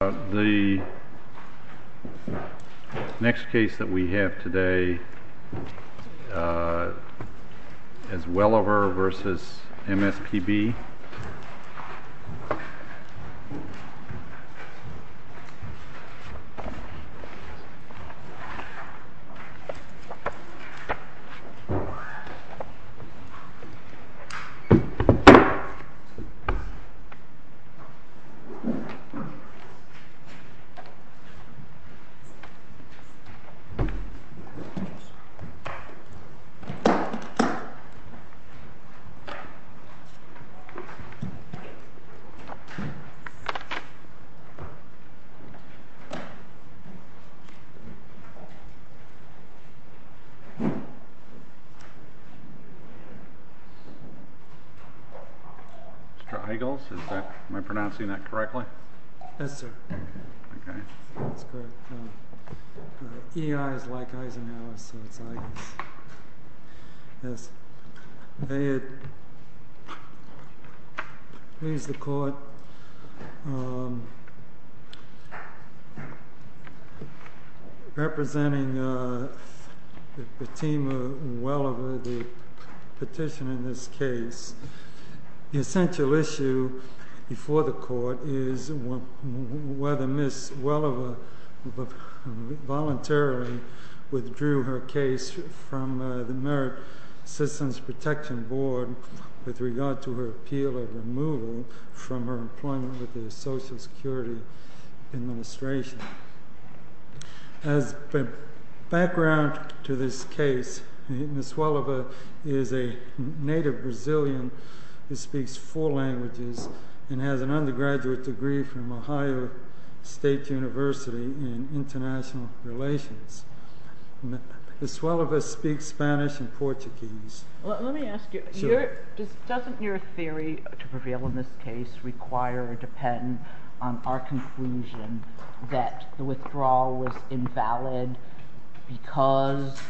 The next case that we have today is Welliver v. MSPB Mr. Eagles, am I pronouncing that correctly? Yes, sir. E-I is like Eisenhower, so it's Eagles. Yes. May it please the court, representing Fatima Welliver, the petitioner in this case, the essential issue before the court is whether Ms. Welliver voluntarily withdrew her case from the Merit Citizens Protection Board with regard to her appeal of removal from her employment with the Social Security Administration. As background to this case, Ms. Welliver is a native Brazilian who speaks four languages and has an undergraduate degree from Ohio State University in international relations. Ms. Welliver speaks Spanish and Portuguese. Let me ask you, doesn't your theory to prevail in this case require or depend on our conclusion that the withdrawal was invalid because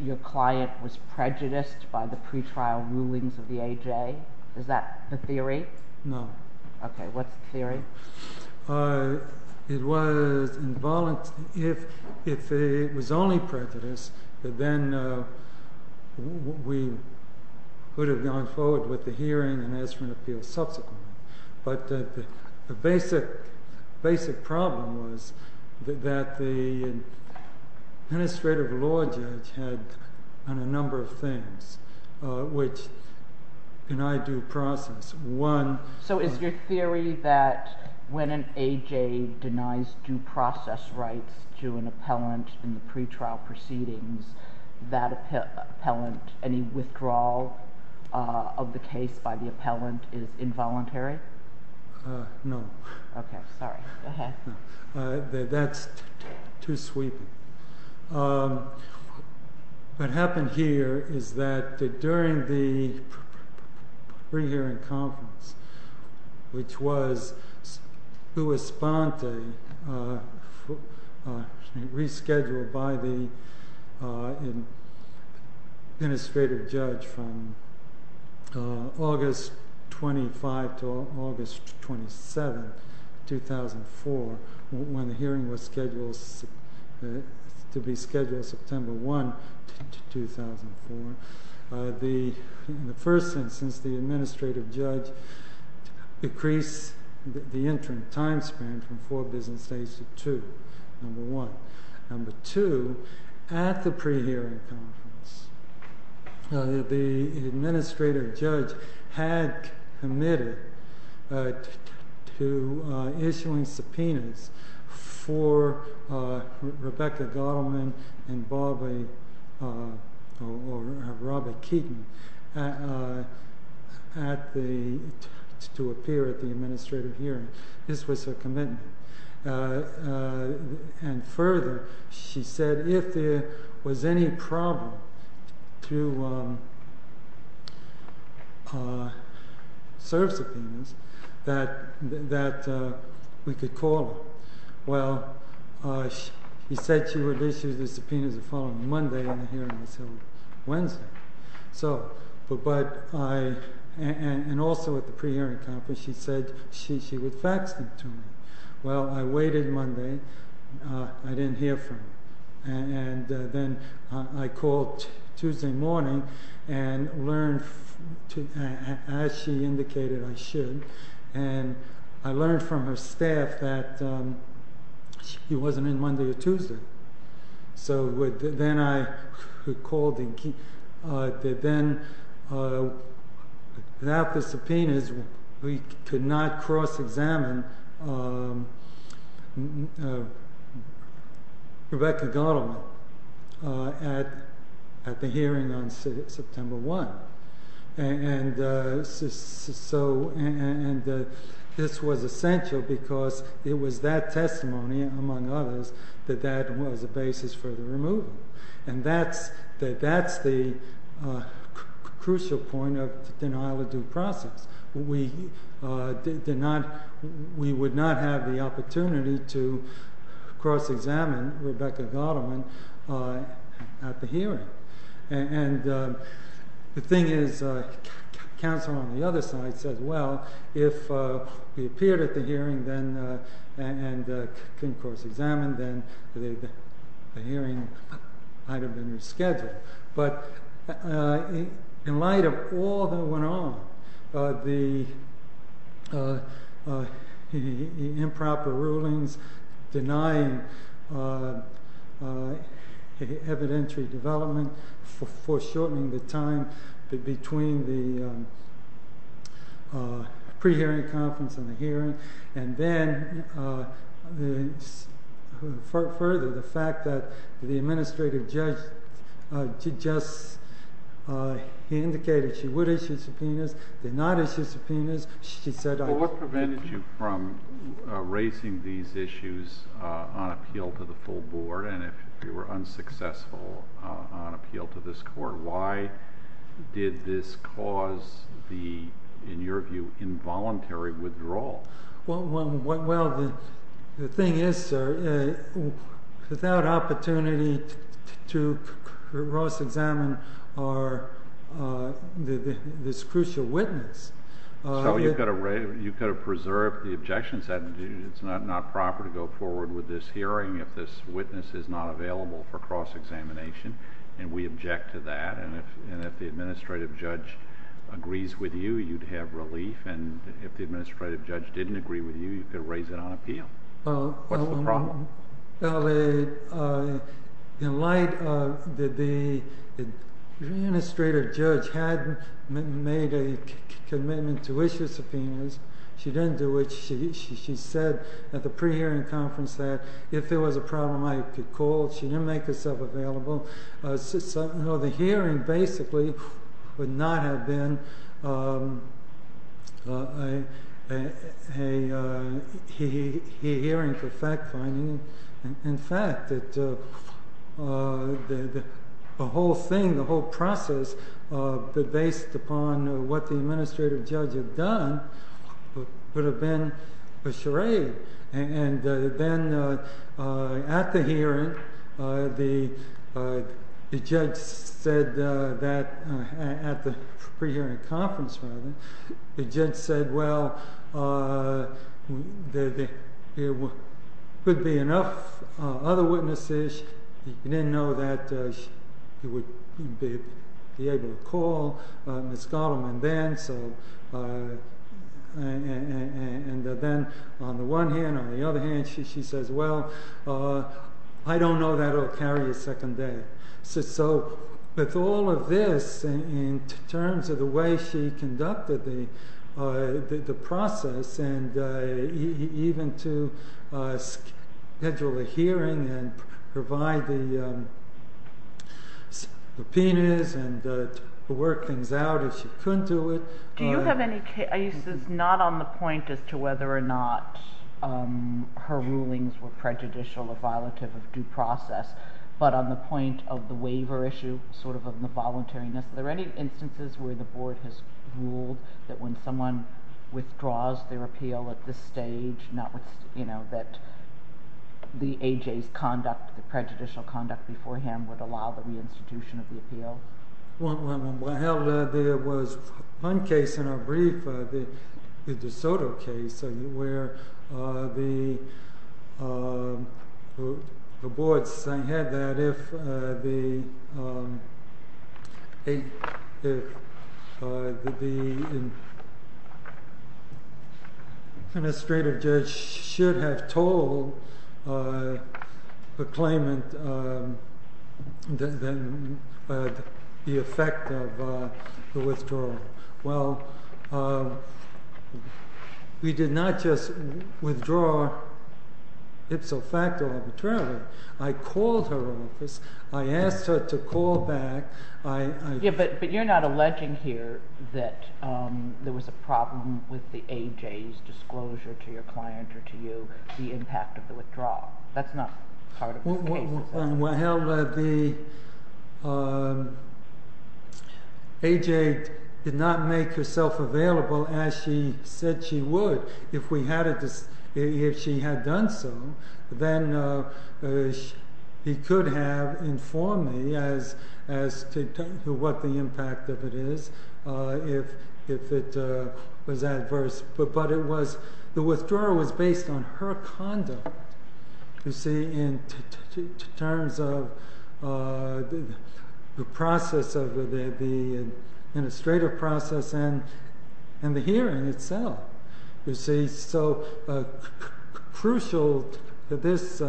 your client was prejudiced by the pretrial rulings of the AJ? Is that the theory? No. Okay. What's the theory? It was only prejudice that then we would have gone forward with the hearing and as for an appeal subsequently. But the basic problem was that the administrative law judge had a number of things which in our due process. So is your theory that when an AJ denies due process rights to an appellant in the pretrial proceedings, that appellant, any withdrawal of the case by the appellant is involuntary? No. Okay, sorry. Go ahead. That's too sweeping. What happened here is that during the pre-hearing conference, which was rescheduled by the administrative judge from August 25 to August 27, 2004, when the hearing was scheduled to be scheduled September 1, 2004, in the first instance, the administrative judge decreased the interim time span from four business days to two, number one. Number two, at the pre-hearing conference, the administrative judge had committed to issuing subpoenas for Rebecca Gottelman and Bobby or Robert Keaton to appear at the administrative hearing. This was a commitment. And further, she said if there was any problem to serve subpoenas, that we could call her. Well, he said she would issue the subpoenas the following Monday in the hearing, so Wednesday. And also at the pre-hearing conference, she said she would fax them to me. Well, I waited Monday. I didn't hear from her. And then I called Tuesday morning and learned, as she indicated I should, and I learned from her staff that she wasn't in Monday or Tuesday. So then I called and then without the subpoenas, we could not cross-examine Rebecca Gottelman at the hearing on September 1. And this was essential because it was that testimony, among others, that that was a basis for the removal. And that's the crucial point of denial of due process. We would not have the opportunity to cross-examine Rebecca Gottelman at the hearing. And the thing is, counsel on the other side says, well, if we appeared at the hearing and couldn't cross-examine, then the hearing might have been rescheduled. But in light of all that went on, the improper rulings, denying evidentiary development, foreshortening the time between the pre-hearing conference and the hearing, and then further, the fact that the administrative judge just indicated she would issue subpoenas, did not issue subpoenas, she said I would. Well, what prevented you from raising these issues on appeal to the full board? And if you were unsuccessful on appeal to this court, why did this cause the, in your view, involuntary withdrawal? Well, the thing is, sir, without opportunity to cross-examine this crucial witness. So you could have preserved the objections that it's not proper to go forward with this hearing if this witness is not available for cross-examination. And we object to that. And if the administrative judge agrees with you, you'd have relief. And if the administrative judge didn't agree with you, you could raise it on appeal. What's the problem? Well, in light of the administrative judge hadn't made a commitment to issue subpoenas, she didn't do it. She said at the pre-hearing conference that if there was a problem, I could call. She didn't make herself available. The hearing, basically, would not have been a hearing for fact-finding. In fact, the whole thing, the whole process, based upon what the administrative judge had done, would have been a charade. And then at the hearing, the judge said that at the pre-hearing conference, the judge said, well, there could be enough other witnesses. He didn't know that he would be able to call Ms. Gottelman then. And then on the one hand, on the other hand, she says, well, I don't know that it will carry a second day. So with all of this, in terms of the way she conducted the process, and even to schedule a hearing and provide the subpoenas and work things out the way she could do it. Do you have any cases, not on the point as to whether or not her rulings were prejudicial or violative of due process, but on the point of the waiver issue, sort of on the voluntariness, are there any instances where the board has ruled that when someone withdraws their appeal at this stage, that the AJ's conduct, the prejudicial conduct beforehand, would allow the reinstitution of the appeal? Well, there was one case in our brief, the DeSoto case, where the board had that if the administrative judge should have told the claimant the effect of the withdrawal. Well, we did not just withdraw ipso facto arbitrarily. I called her office. I asked her to call back. Yeah, but you're not alleging here that there was a problem with the AJ's disclosure to your client or to you, the impact of the withdrawal. That's not part of the case. Well, AJ did not make herself available as she said she would. If she had done so, then he could have informed me as to what the impact of it is if it was adverse. But the withdrawal was based on her conduct in terms of the process of the administrative process and the hearing itself. So crucial to this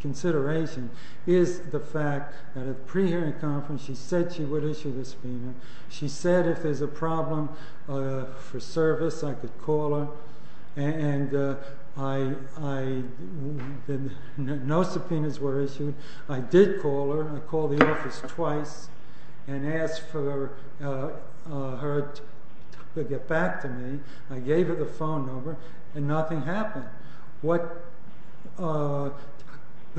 consideration is the fact that at a pre-hearing conference, she said she would issue this payment. She said if there's a problem for service, I could call her. And no subpoenas were issued. I did call her. I called the office twice and asked for her to get back to me. I gave her the phone number, and nothing happened. What would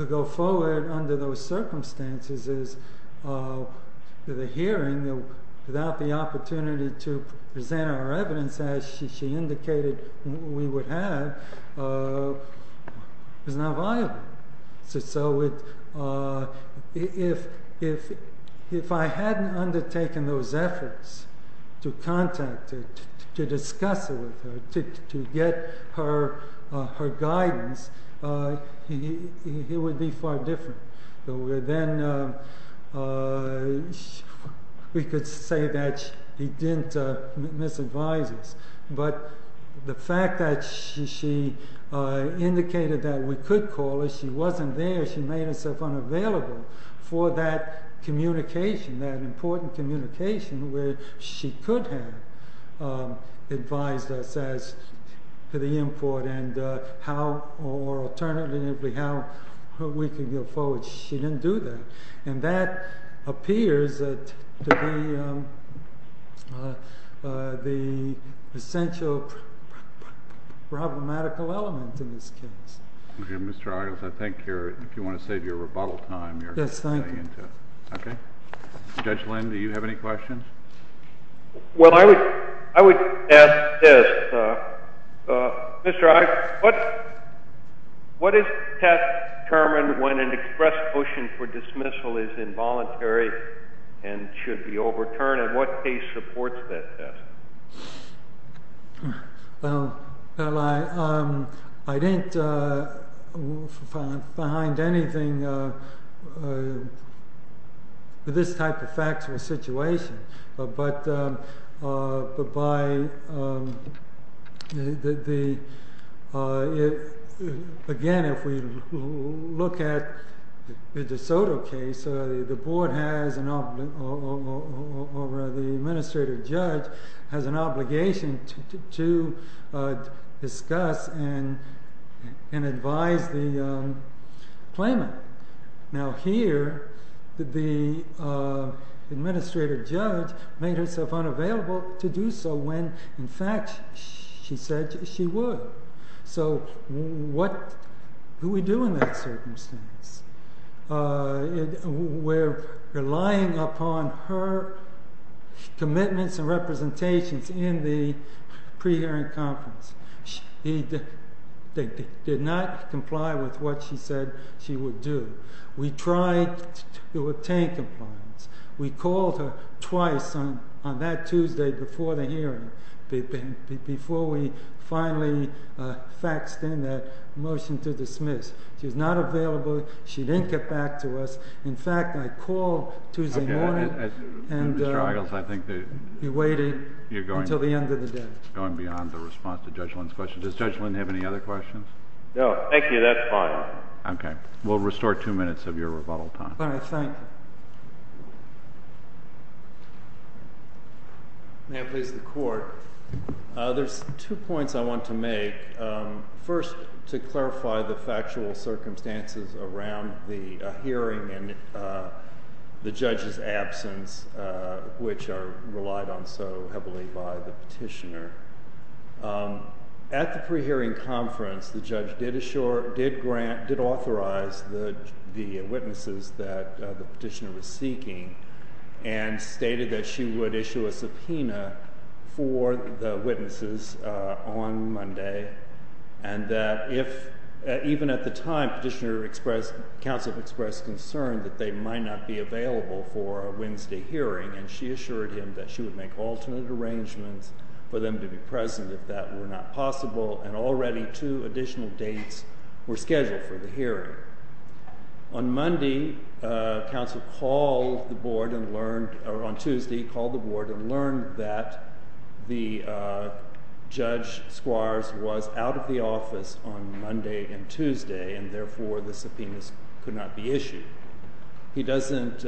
go forward under those circumstances is the hearing, without the opportunity to present our evidence as she indicated we would have, is not viable. So if I hadn't undertaken those efforts to contact her, to discuss it with her, to get her guidance, he would be far different. Then we could say that he didn't misadvise us. But the fact that she indicated that we could call her, she wasn't there. She made herself unavailable for that communication, that important communication, where she could have advised us as to the import and how, or alternatively, how we could go forward. She didn't do that. And that appears to be the essential problematical element CHIEF JUSTICE ROBERTSON, JR.: OK, Mr. Argyles, I think you're, if you want to save your rebuttal time, MR. ARGYLES, JR.: Yes, thank you. CHIEF JUSTICE ROBERTSON, JR.: OK. Judge Lind, do you have any questions? Well, I would ask this. Mr. Argyles, what is the test determined when an express motion for dismissal is involuntary and should be overturned? And what case supports that test? Well, I didn't find anything with this type of factual situation, but by the, again, if we look at the De Soto case, the board has an, or the administrative judge has an obligation to discuss and advise the claimant. Now here, the administrative judge made herself unavailable to do so when, in fact, she said she would. So what do we do in that circumstance? We're relying upon her commitments and representations in the pre-hearing conference. She did not comply with what she said she would do. We tried to obtain compliance. We called her twice on that Tuesday before the hearing, before we finally faxed in that motion to dismiss. She was not available. She didn't get back to us. In fact, I called Tuesday morning and waited until the end of the day. Going beyond the response to Judge Lynn's question, does Judge Lynn have any other questions? No, thank you. That's fine. OK, we'll restore two minutes of your rebuttal time. All right, thanks. May I please the court? There's two points I want to make. First, to clarify the factual circumstances around the hearing and the judge's absence, which are relied on so heavily by the petitioner. At the pre-hearing conference, the judge did authorize the witnesses that the petitioner was seeking and stated that she would issue a subpoena for the witnesses on Monday. And that even at the time, counsel expressed concern that they might not be available for a Wednesday hearing. And she assured him that she would make alternate arrangements for them to be present if that were not possible. And already, two additional dates were scheduled for the hearing. On Tuesday, counsel called the board and learned that Judge Squires was out of the office on Monday and Tuesday. And therefore, the subpoenas could not be issued. He doesn't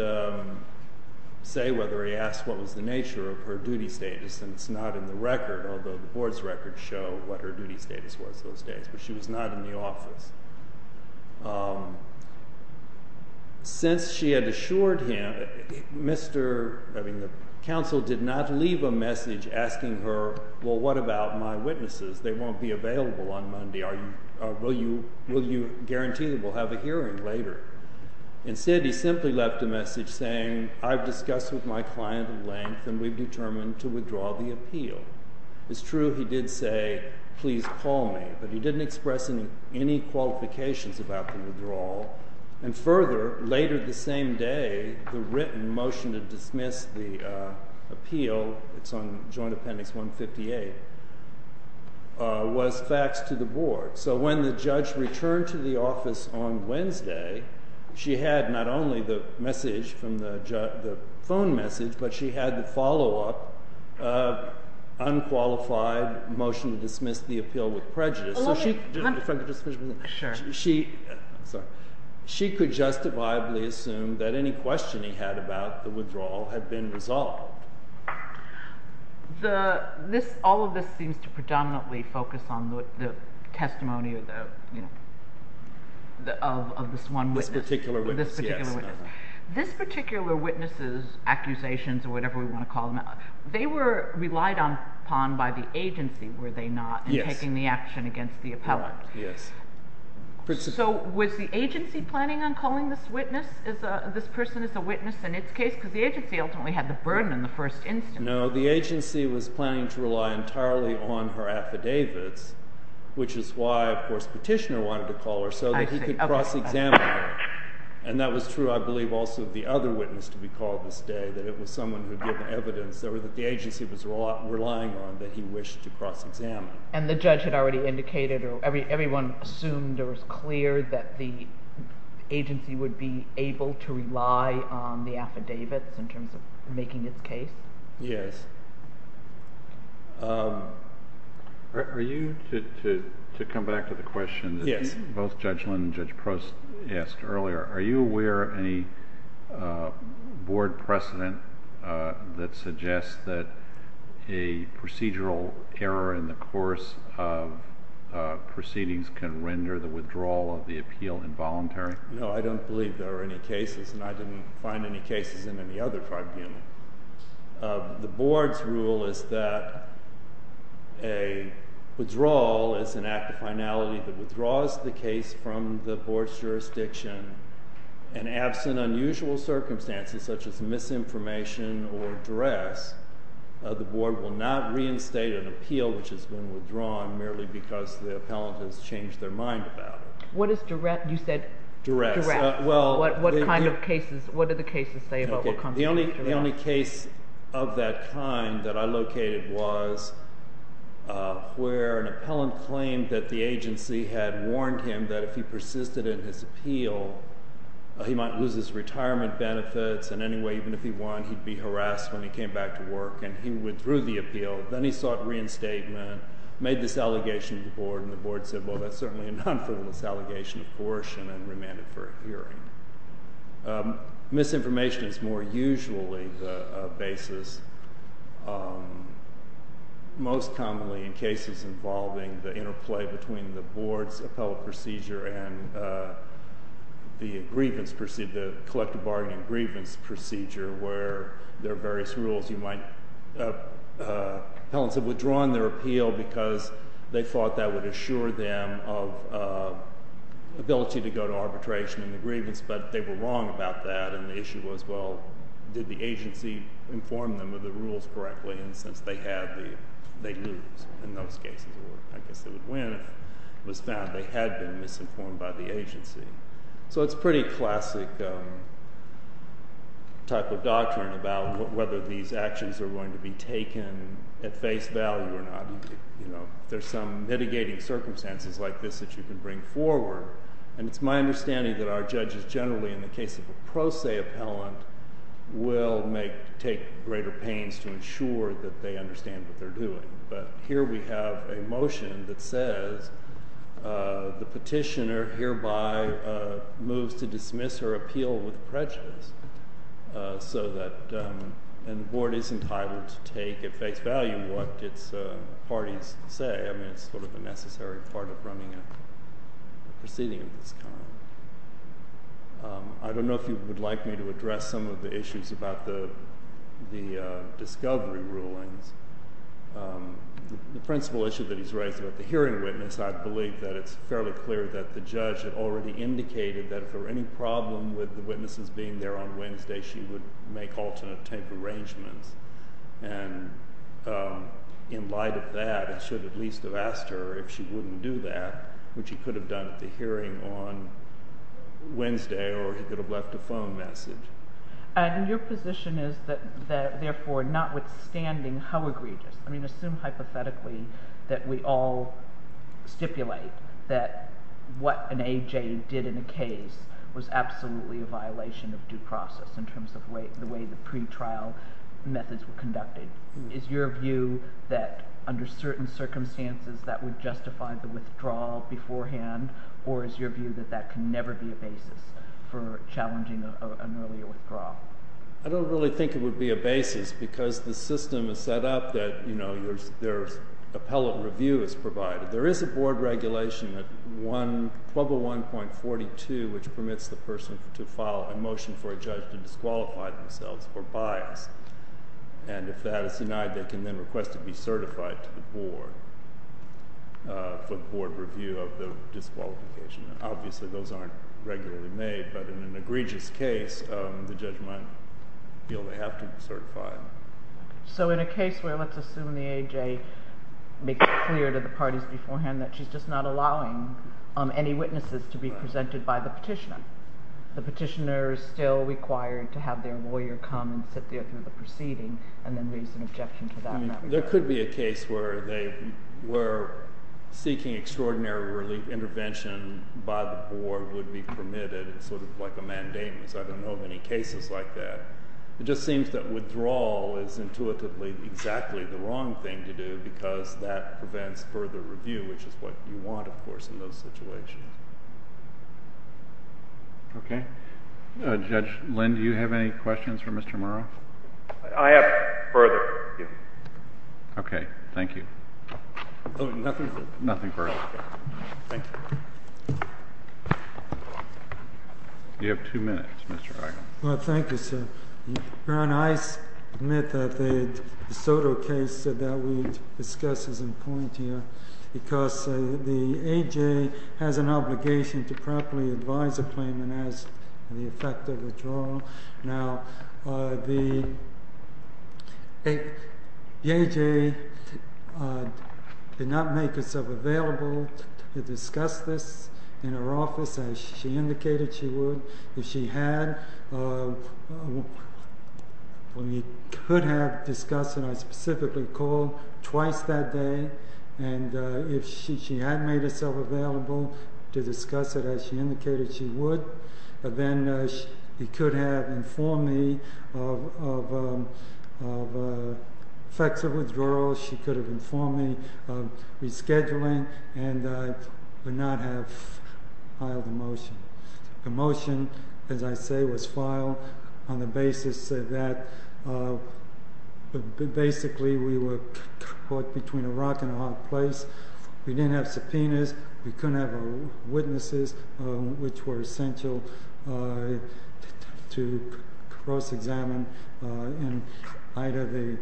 say whether he asked what was the nature of her duty status, and it's not in the record, although the board's records show what her duty status was those days. But she was not in the office. Since she had assured him, the counsel did not leave a message asking her, well, what about my witnesses? They won't be available on Monday. Will you guarantee that we'll have a hearing later? Instead, he simply left a message saying, I've discussed with my client in length, and we've determined to withdraw the appeal. It's true he did say, please call me, but he didn't express any qualifications about the withdrawal. And further, later the same day, the written motion to dismiss the appeal, it's on joint appendix 158, was faxed to the board. So when the judge returned to the office on Wednesday, she had not only the message from the phone message, but she had the follow-up unqualified motion to dismiss the appeal with prejudice. She could justifiably assume that any question he had about the withdrawal had been resolved. All of this seems to predominantly focus on the testimony of this one witness. This particular witness, yes. This particular witness's accusations, or whatever we want to call them, they were relied upon by the agency, were they not? Yes. In taking the action against the appellant. Yes. So was the agency planning on calling this witness, this person as a witness in its case? Because the agency ultimately had the burden in the first instance. No, the agency was planning to rely entirely on her affidavits, which is why, of course, Petitioner wanted to call her, so that he could cross-examine her. And that was true, I believe, also of the other witness to be called this day, that it was someone who had given evidence, or that the agency was relying on, that he wished to cross-examine. And the judge had already indicated, or everyone assumed it was clear that the agency would be able to rely on the affidavits, in terms of making its case. Yes. Are you, to come back to the question that both Judge Linn and Judge Prost asked earlier, are you aware of any board precedent that suggests that a procedural error in the course of proceedings can render the withdrawal of the appeal involuntary? No, I don't believe there are any cases. And I didn't find any cases in any other tribunal. The board's rule is that a withdrawal is an act of finality that withdraws the case from the board's jurisdiction. And absent unusual circumstances, such as misinformation or duress, the board will not reinstate an appeal which has been withdrawn, merely because the appellant has changed their mind about it. What is duress? You said duress. What kind of cases, what do the cases say about what constitutes duress? The only case of that kind that I located was where an appellant claimed that the agency had warned him that if he persisted in his appeal, he might lose his retirement benefits. And anyway, even if he won, he'd be harassed when he came back to work. Then he sought reinstatement, made this allegation to the board. And the board said, well, that's certainly a non-fulfillment allegation of coercion and remanded for a hearing. Misinformation is more usually the basis, most commonly in cases involving the interplay between the board's appellate procedure and the collective bargaining and grievance procedure, where there are various rules. Appellants have withdrawn their appeal because they thought that would assure them of ability to go to arbitration in the grievance. But they were wrong about that. And the issue was, well, did the agency inform them of the rules correctly? And since they have, they lose in those cases. Or I guess they would win if it was found they had been misinformed by the agency. So it's a pretty classic type of doctrine about whether these actions are going to be taken at face value or not. There's some mitigating circumstances like this that you can bring forward. And it's my understanding that our judges generally, in the case of a pro se appellant, will take greater pains to ensure that they understand what they're doing. But here we have a motion that says the petitioner hereby moves to dismiss her appeal with prejudice. And the board is entitled to take at face value what its parties say. I mean, it's sort of a necessary part of running a proceeding of this kind. I don't know if you would like me to address some of the issues about the discovery rulings. The principal issue that he's raised about the hearing witness, I believe that it's fairly clear that the judge had already indicated that if there were any problem with the witnesses being there on Wednesday, she would make alternate tape arrangements. And in light of that, it should at least have asked her if she wouldn't do that, which she could have done at the hearing on Wednesday, or he could have left a phone message. And your position is that therefore, notwithstanding how egregious. I mean, assume hypothetically that we all stipulate that what an AJ did in a case was absolutely a violation of due process, in terms of the way the pretrial methods were conducted. Is your view that under certain circumstances, that would justify the withdrawal beforehand? Or is your view that that can never be a basis for challenging an earlier withdrawal? I don't really think it would be a basis, because the system is set up that their appellate review is provided. There is a board regulation, 1201.42, which permits the person to file a motion for a judge to disqualify themselves for bias. And if that is denied, they can then request to be certified to the board for the board review of the disqualification. Obviously, those aren't regularly made. But in an egregious case, the judge might feel they have to be certified. So in a case where, let's assume the AJ makes it clear to the parties beforehand that she's just not allowing any witnesses to be presented by the petitioner, the petitioner is still required to have their lawyer come and sit there through the proceeding, and then raise an objection to that. There could be a case where they were seeking extraordinary relief intervention by the board would be permitted, sort of like a mandamus. I don't know of any cases like that. It just seems that withdrawal is intuitively prevents further review, which is what you want, of course, in those situations. OK. Judge Lind, do you have any questions for Mr. Murrow? I have further. OK. Thank you. Oh, nothing further. Nothing further. Thank you. You have two minutes, Mr. Eigel. Well, thank you, sir. Your Honor, I submit that the Soto case that we discussed is in point here, because the AJ has an obligation to properly advise a claimant as to the effect of withdrawal. Now, the AJ did not make herself available to discuss this in her office, as she indicated she would. If she had, we could have discussed it. I specifically called twice that day. And if she had made herself available to discuss it, as she indicated she would, then she could have informed me of effects of withdrawal. She could have informed me of rescheduling and would not have filed the motion. The motion, as I say, was filed on the basis that basically we were caught between a rock and a hard place. We didn't have subpoenas. We couldn't have witnesses, which were essential to cross-examine in light of the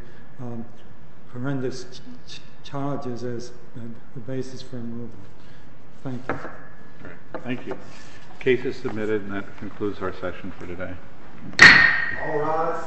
horrendous charges as the basis for removal. Thank you. Thank you. The case is submitted. And that concludes our session for today. All rise.